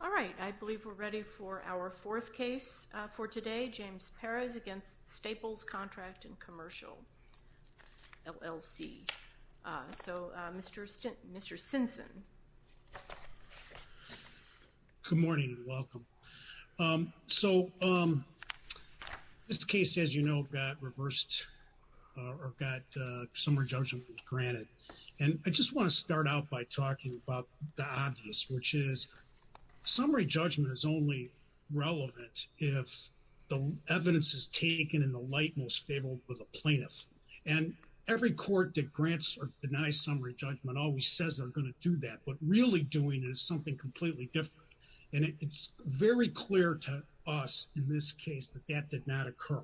All right I believe we're ready for our fourth case for today James Perez against Staples Contract & Commercial LLC. So Mr. Stinson. Good morning welcome. So this case as you know got reversed or got some re-judgment granted and I just want to start out by talking about the obvious which is summary judgment is only relevant if the evidence is taken in the light most favorable for the plaintiff and every court that grants or denies summary judgment always says they're going to do that but really doing is something completely different and it's very clear to us in this case that that did not occur.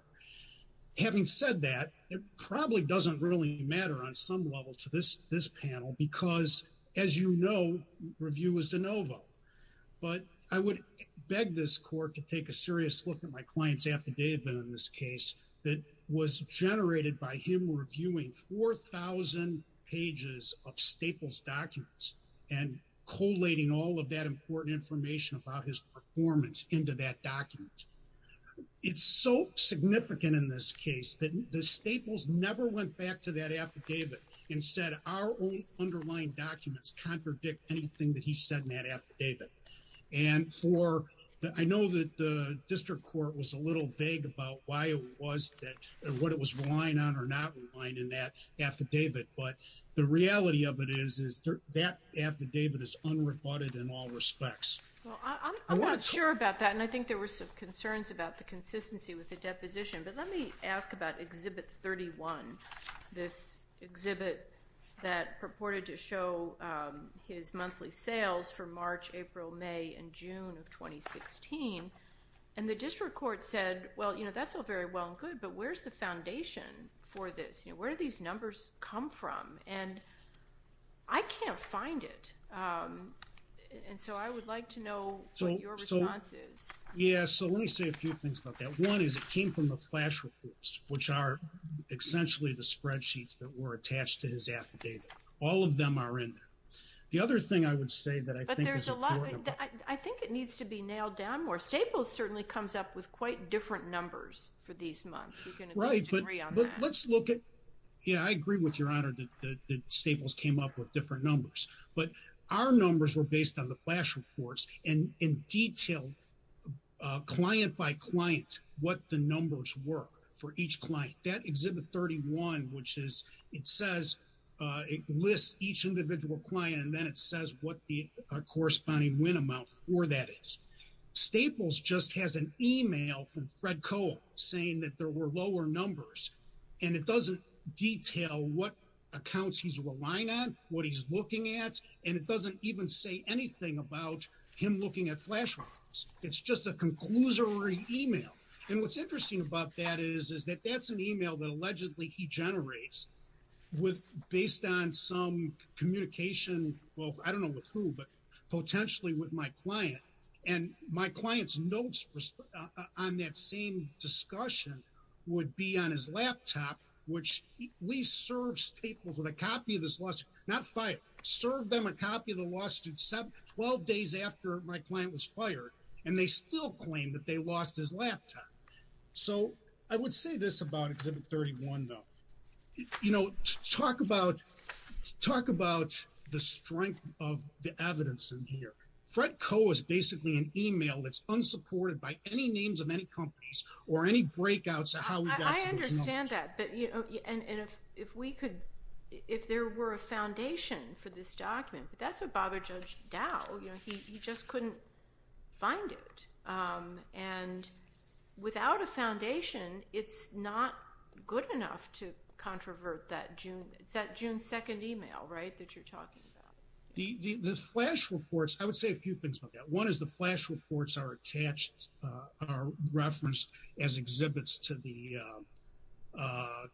Having said that it probably doesn't really matter on some level to this this panel because as you know review is de novo but I would beg this court to take a serious look at my clients affidavit in this case that was generated by him reviewing 4,000 pages of Staples documents and collating all of that important information about his performance into that document. It's so significant in this case that the Staples never went back to that our own underlying documents contradict anything that he said in that affidavit and for that I know that the district court was a little vague about why it was that what it was relying on or not relying in that affidavit but the reality of it is is that affidavit is unrebutted in all respects. I'm not sure about that and I think there were some concerns about the consistency with the purported to show his monthly sales for March April May and June of 2016 and the district court said well you know that's all very well and good but where's the foundation for this you know where do these numbers come from and I can't find it and so I would like to know what your response is. Yes so let me say a few things about that one is it came from the flash reports which are essentially the spreadsheets that were attached to his affidavit. All of them are in there. The other thing I would say that I think there's a lot I think it needs to be nailed down more Staples certainly comes up with quite different numbers for these months. Right but let's look at yeah I agree with your honor that Staples came up with different numbers but our numbers were based on the flash reports and in detail client by client what the numbers were for each client that exhibit 31 which is it says it lists each individual client and then it says what the corresponding win amount for that is. Staples just has an email from Fred Cole saying that there were lower numbers and it doesn't detail what accounts he's relying on what he's looking at and it doesn't even say anything about him looking at flash records it's just a conclusory email and what's interesting about that is is that that's an email that allegedly he generates with based on some communication well I don't know with who but potentially with my client and my clients notes on that same discussion would be on his laptop which we serve Staples with a copy of this lawsuit not fired served them a copy of the lawsuit seven twelve days after my client was laptop so I would say this about exhibit 31 though you know talk about talk about the strength of the evidence in here Fred Coe is basically an email that's unsupported by any names of any companies or any breakouts how we understand that but you know and if we could if there were a foundation for this without a foundation it's not good enough to controvert that June it's that June 2nd email right that you're talking about the flash reports I would say a few things about that one is the flash reports are attached are referenced as exhibits to the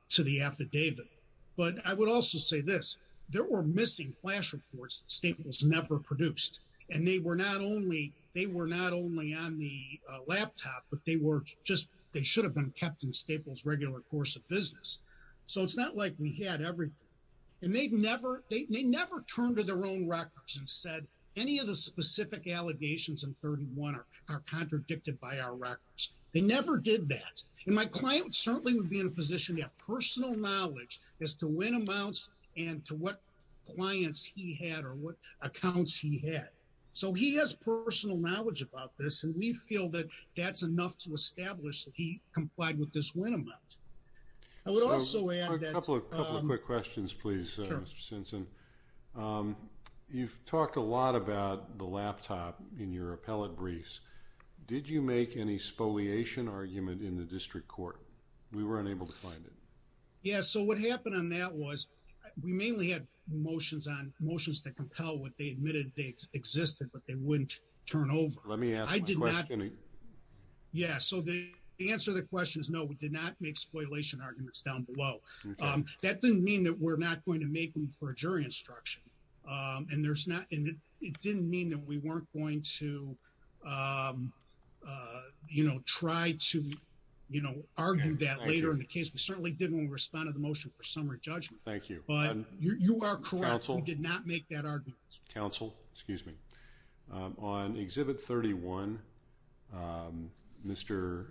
to the affidavit but I would also say this there were missing flash reports Staples never produced and they were not only they were not only on the laptop but they were just they should have been kept in Staples regular course of business so it's not like we had everything and they've never they may never turn to their own records and said any of the specific allegations in 31 are contradicted by our records they never did that and my client certainly would be in a position to have personal knowledge as to when amounts and to what clients he had or what accounts he had so he has personal knowledge about this and we feel that that's enough to establish he complied with this when a month I would also add that a couple of quick questions please since and you've talked a lot about the laptop in your appellate briefs did you make any spoliation argument in the district court we weren't able to find it yeah so what happened on that was we mainly had motions on motions to compel what they yeah so the answer the question is no we did not make spoliation arguments down below that didn't mean that we're not going to make them for a jury instruction and there's not and it didn't mean that we weren't going to you know try to you know argue that later in the case we certainly didn't respond to the motion for summary judgment thank you but you are careful did not make counsel excuse me on exhibit 31 mr.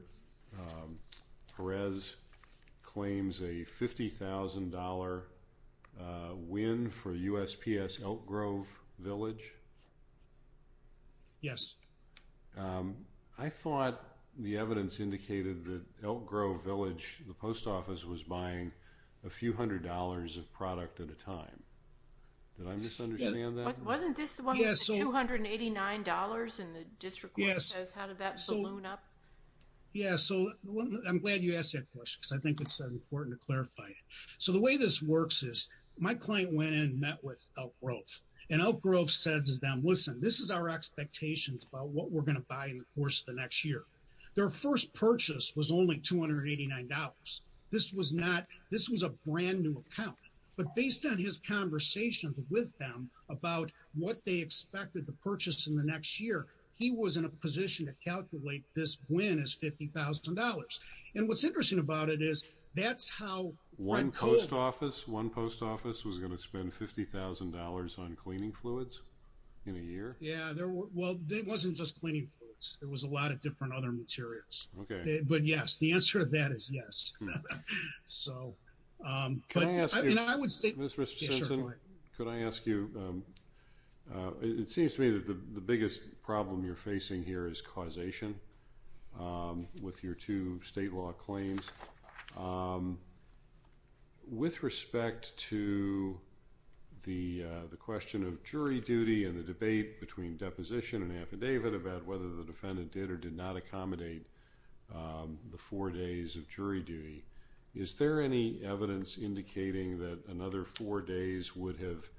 Perez claims a $50,000 win for USPS Elk Grove village yes I thought the evidence indicated that Elk Grove village the post office was buying a few hundred dollars of product at a time did I misunderstand that $289 in the district yes yes so I'm glad you asked that question because I think it's important to clarify it so the way this works is my client went in met with Elk Grove and Elk Grove says is down listen this is our expectations about what we're gonna buy in the course of the next year their first purchase was only $289 this was not this was a brand new account but based on his conversations with them about what they expected the purchase in the next year he was in a position to calculate this win is $50,000 and what's interesting about it is that's how one post office one post office was going to spend $50,000 on cleaning fluids in a year yeah well it wasn't just cleaning it was a lot of different other materials okay but yes the answer of that is yes could I ask you it seems to me that the biggest problem you're facing here is causation with your two state law claims with respect to the the question of jury duty and the debate between deposition and affidavit about whether the defendant did or did not accommodate the four days of jury duty is there any evidence indicating that another four days would have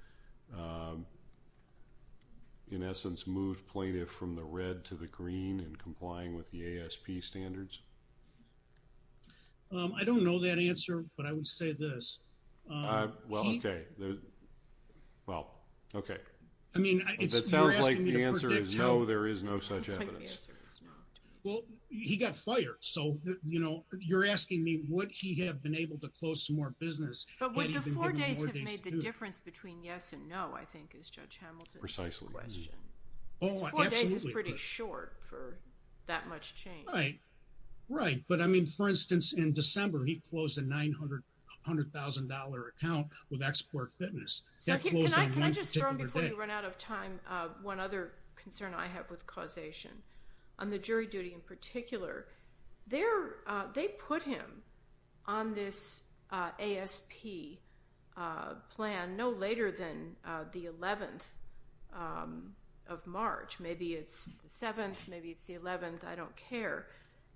in essence moved plaintiff from the red to the green and complying with the ASP standards I don't know that answer but I would say this well okay well okay I mean it sounds like the answer is no there is no such well he got fired so you know you're asking me what he have been able to close some more business but with the four days have made the difference between yes and no I think is judge Hamilton precisely question oh it's pretty short for that much change right right but I mean for instance in December he closed a nine hundred hundred thousand dollar account with export fitness can I just run out of time one other concern I have with causation on the jury duty in particular there they put him on this ASP plan no later than the 11th of March maybe it's the 7th maybe it's the 11th I don't care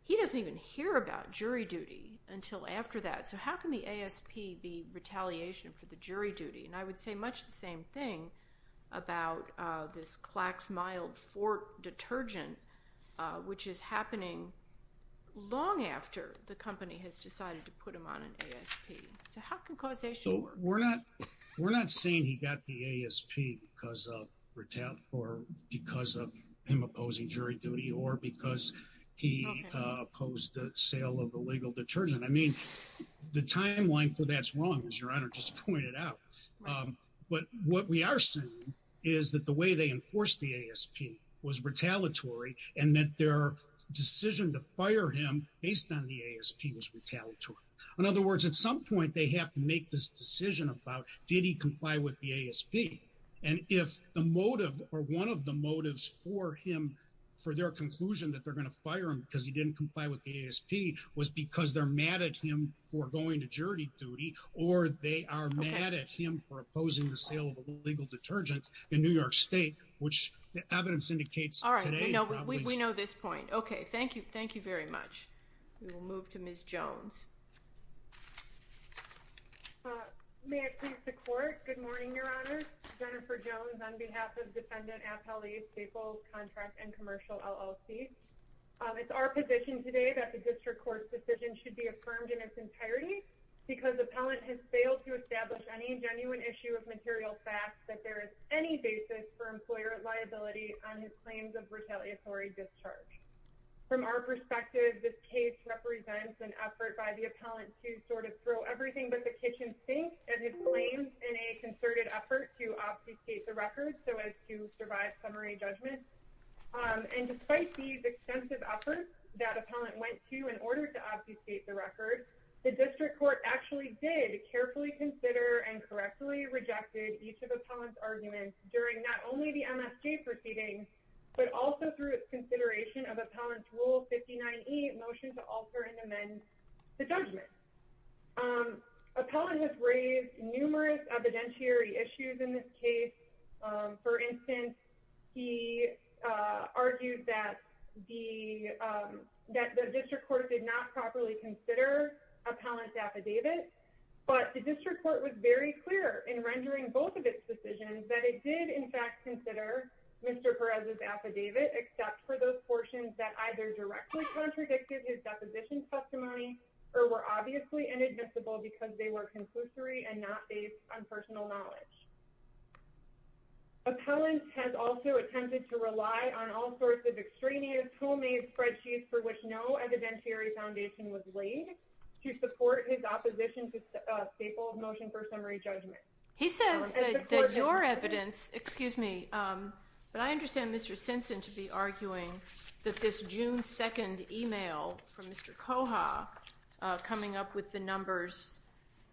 he doesn't even hear about jury duty until after that so how can the ASP be retaliation for the jury duty and I would say much the same thing about this plaques mild for detergent which is happening long after the company has decided to put him on an ASP so how can causation we're not we're not saying he got the ASP because of retail for because of him opposing jury duty or because he opposed the sale of the legal detergent I mean the timeline for that's wrong as your honor just pointed out but what we are saying is that the way they enforced the ASP was retaliatory and that their decision to fire him based on the ASP was retaliatory in other words at some point they have to make this decision about did he comply with the ASP and if the motive or one of the motives for him for their conclusion that they're gonna fire him because he didn't comply with the ASP was because they're mad at him for going to jury duty or they are mad at him for opposing the sale of a legal detergent in New York which the evidence indicates all right no we know this point okay thank you thank you very much we will move to miss Jones may I please the court good morning your honor Jennifer Jones on behalf of defendant appellee staple contract and commercial LLC it's our position today that the district court's decision should be affirmed in its entirety because the pellet has failed to establish any genuine issue of material fact that there is any basis for employer liability on his claims of retaliatory discharge from our perspective this case represents an effort by the appellant to sort of throw everything but the kitchen sink and his claims in a concerted effort to obfuscate the record so as to survive summary judgment and despite these extensive efforts that appellant went to in order to obfuscate the record the district court actually did carefully consider and correctly rejected each of the comments arguments during not only the MSJ proceeding but also through its consideration of appellants rule 59e motion to alter and amend the judgment appellant has raised numerous evidentiary issues in this case for instance he argued that the that the district court did not properly consider appellant's affidavit but the district court was very clear in rendering both of its decisions that it did in fact consider mr. Perez's affidavit except for those portions that either directly contradicted his deposition testimony or were obviously inadmissible because they were conclusory and not based on personal knowledge appellant has also attempted to rely on all sorts of extraneous tool made spreadsheets for which no evidentiary foundation was laid to support his opposition to staple motion for summary judgment he says that your evidence excuse me but I understand mr. Simpson to be arguing that this June 2nd email from mr. Koha coming up with the numbers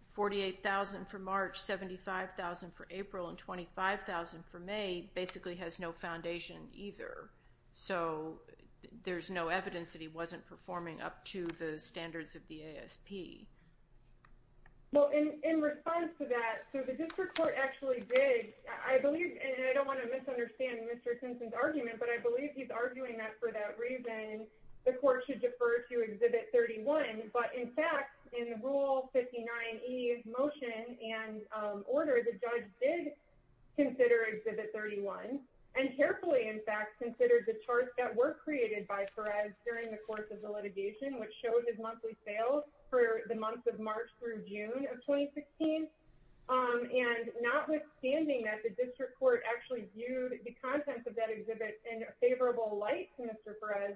48,000 for March 75,000 for April and 25,000 for May basically has no foundation either so there's no evidence that he wasn't performing up to the standards of the ASP in response to that the district court actually did I believe and I don't want to misunderstand mr. Simpson's argument but I believe he's arguing that for that reason the court should defer to exhibit 31 but in fact in rule 59e motion and order the judge did consider exhibit 31 and carefully in fact considered the charts that were created by Perez during the course of the litigation which showed his monthly sales for the month of March through June of 2016 and notwithstanding that the district court actually viewed the contents of that exhibit in a favorable light to mr. Perez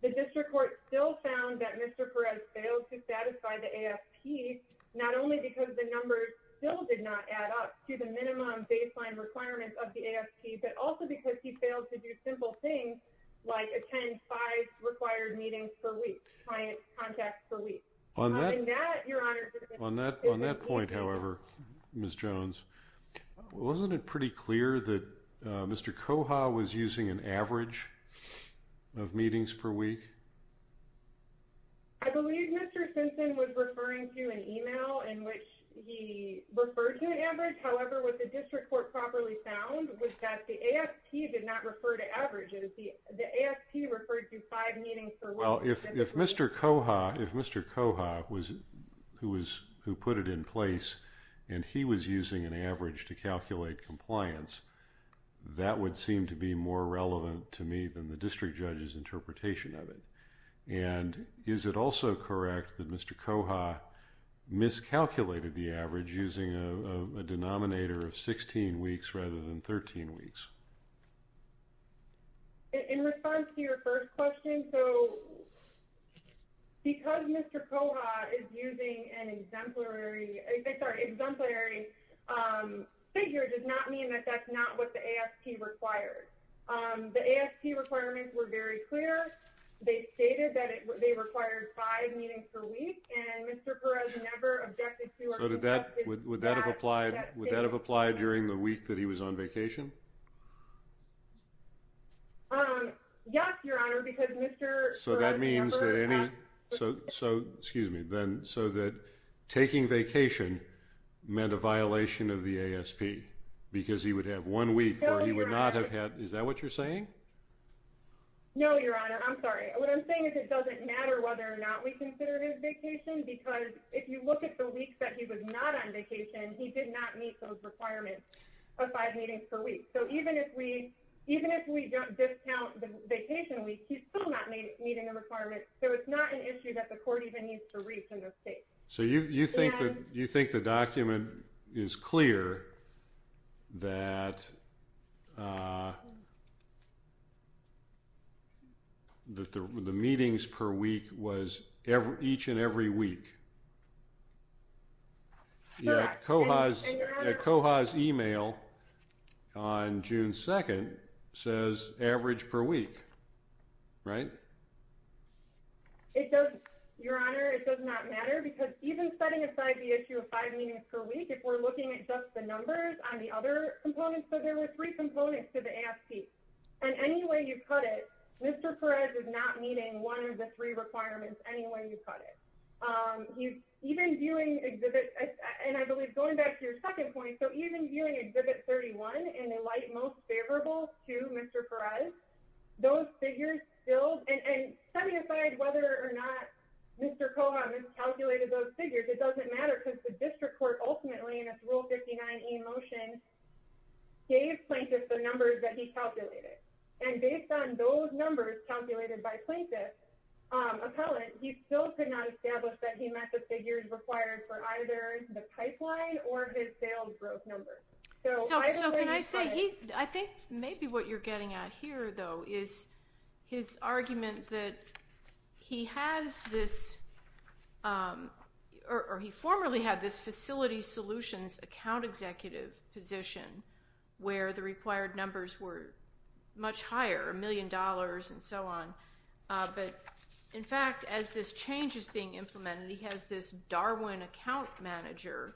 the district court still found that mr. Perez failed to satisfy the AFP not only because the numbers still did not add up to the minimum baseline requirements of the AFP but also because he failed to do simple things like attend five required meetings for weeks on that point however miss Jones wasn't it pretty clear that mr. Koha was using an average of meetings per week however with the district court properly found was that the AFP did not refer to averages the AFP referred to five meetings for well if mr. Koha if mr. Koha was who was who put it in place and he was using an average to calculate compliance that would seem to be more relevant to me than the district judge's interpretation of it and is it also correct that mr. Koha miscalculated the using a denominator of 16 weeks rather than 13 weeks because mr. Koha is using an exemplary exemplary figure does not mean that that's not what the AFP required the AFP requirements were very clear they stated that would that have applied would that have applied during the week that he was on vacation so that means that any so so excuse me then so that taking vacation meant a violation of the ASP because he would have one week or he would not have matter whether or not we consider his vacation because if you look at the week that he was not on vacation he did not meet those requirements of five meetings per week so even if we even if we don't discount the vacation week he's still not meeting the requirements so it's not an issue that the court even needs to reach in the state so you think that you think the document is clear that that the meetings per week was ever each and every week yeah Koha's Koha's email on June 2nd says average per week right it does your honor it does not matter because even setting aside the issue of five meetings per week if we're looking at just the numbers on the other components so there were three components to the AFP and anyway you cut mr. Perez is not meeting one of the three requirements anyway you cut it he's even viewing exhibit and I believe going back to your second point so even viewing exhibit 31 and the light most favorable to mr. Perez those figures filled and set me aside whether or not mr. Koha miscalculated those figures it doesn't matter because the district court ultimately in its rule 59 emotion gave plaintiffs the numbers that he calculated and based on those numbers calculated by plaintiffs appellant he still could not establish that he met the figures required for either the pipeline or his sales growth number so so can I say he I think maybe what you're getting at here though is his argument that he has this or he formerly had this facility solutions account executive position where the required numbers were much higher million dollars and so on but in fact as this change is being implemented he has this Darwin account manager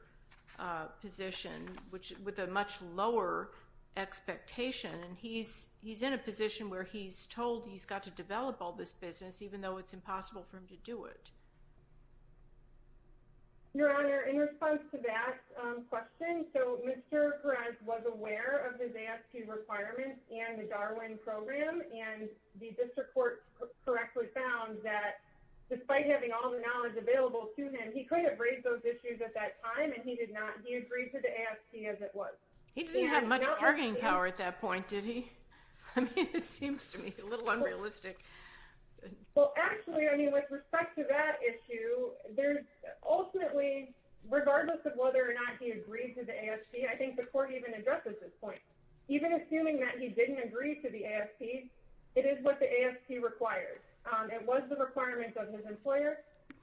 position which with a much lower expectation and he's he's in a position where he's told he's got to develop all this business even though it's impossible for him to do it your honor in response to that question so mr. Perez was aware of his AFP requirements and the Darwin program and the district court correctly found that despite having all the knowledge available to him he could have raised those issues at that time and he did not he agreed to the AFP as it was he didn't have much bargaining power at that point did he it seems to me a little unrealistic well actually I mean with respect to that issue there's ultimately regardless of whether or not he agreed to the AFP I think the court even addresses this point even assuming that he didn't agree to the AFP it is what the AFP requires it was the requirements of his employer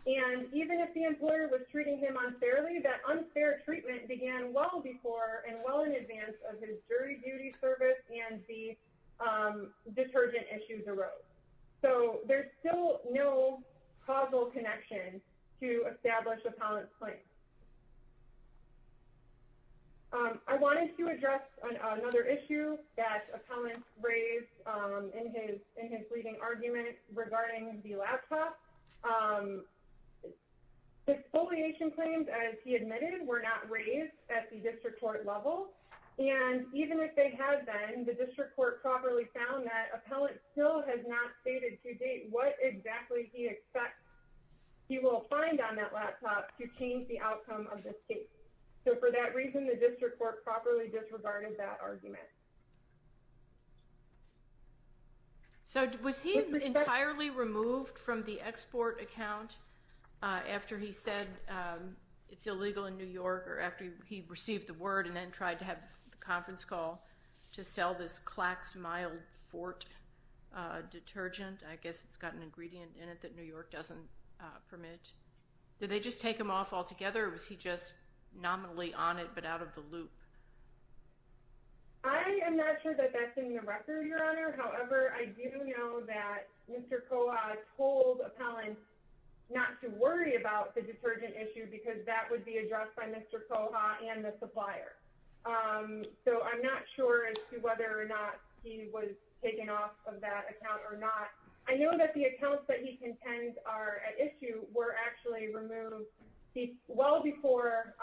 and even if the employer was treating him unfairly that unfair treatment began well before and well in advance of his jury duty service and the detergent issues arose so there's still no causal connection to establish a palant point I wanted to address another issue that appellant raised in his in his leading argument regarding the laptop the exfoliation claims as he admitted were not raised at the district court level and even if they have been the district court properly found that appellant still has not stated to date what exactly he expects he will find on that laptop to change the outcome of this case so for that reason the district court properly disregarded that argument so was he entirely removed from the export account after he said it's illegal in New York or after he received the word and then tried to have the conference call to sell this Klax mild Fort detergent I guess it's got an ingredient in it that New York doesn't permit did they just take him off altogether was he just nominally on it but out of the loop I am not sure that that's in the record your honor however I do know that mr. Koa told appellant not to worry about the detergent issue because that would be addressed by mr. Koha and the supplier so I'm not sure as to whether or not he was taken off of that account or not I know that the accounts that he contends are at issue were actually removed he well before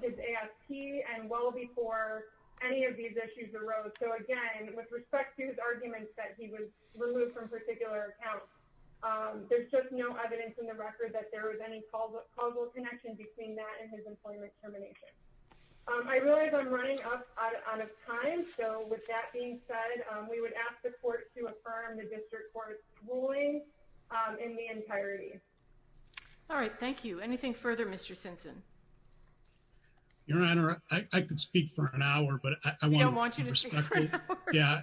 his ASP and well before any of these issues arose so again with respect to his arguments that he was removed from the record that there was any causal connection between that and his employment termination I realize I'm running out of time so with that being said we would ask the court to affirm the district court ruling in the entirety all right thank you anything further mr. Simpson your honor I could speak for an hour but I want you to speak yeah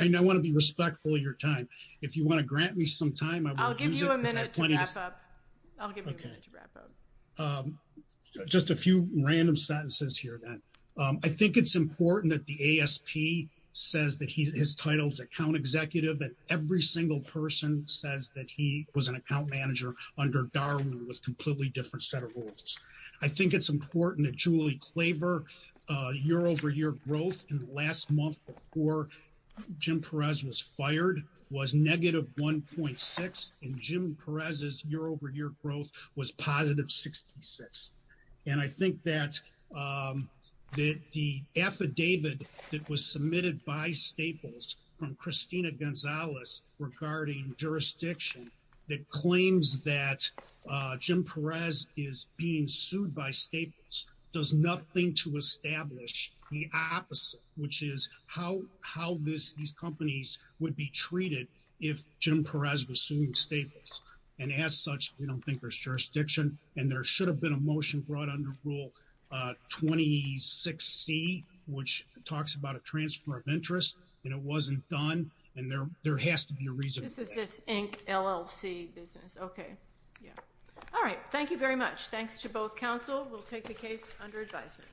I know I want to be respectful of your time if you want to grant me some time I'll give you a minute to wrap up just a few random sentences here that I think it's important that the ASP says that he's his titles account executive that every single person says that he was an account manager under Darwin was completely different set of rules I think it's important that Julie Claver year-over-year growth in the last month before Jim Perez was fired was negative 1.6 and Jim Perez's year-over-year growth was positive 66 and I think that that the affidavit that was submitted by Staples from Christina Gonzalez regarding jurisdiction that claims that Jim Perez is being sued by Staples does nothing to establish the opposite which is how how this these companies would be assuming statements and as such you don't think there's jurisdiction and there should have been a motion brought under rule 26 C which talks about a transfer of interest and it wasn't done and there there has to be a reason okay all right thank you very much thanks to both counsel we'll take the case under advisement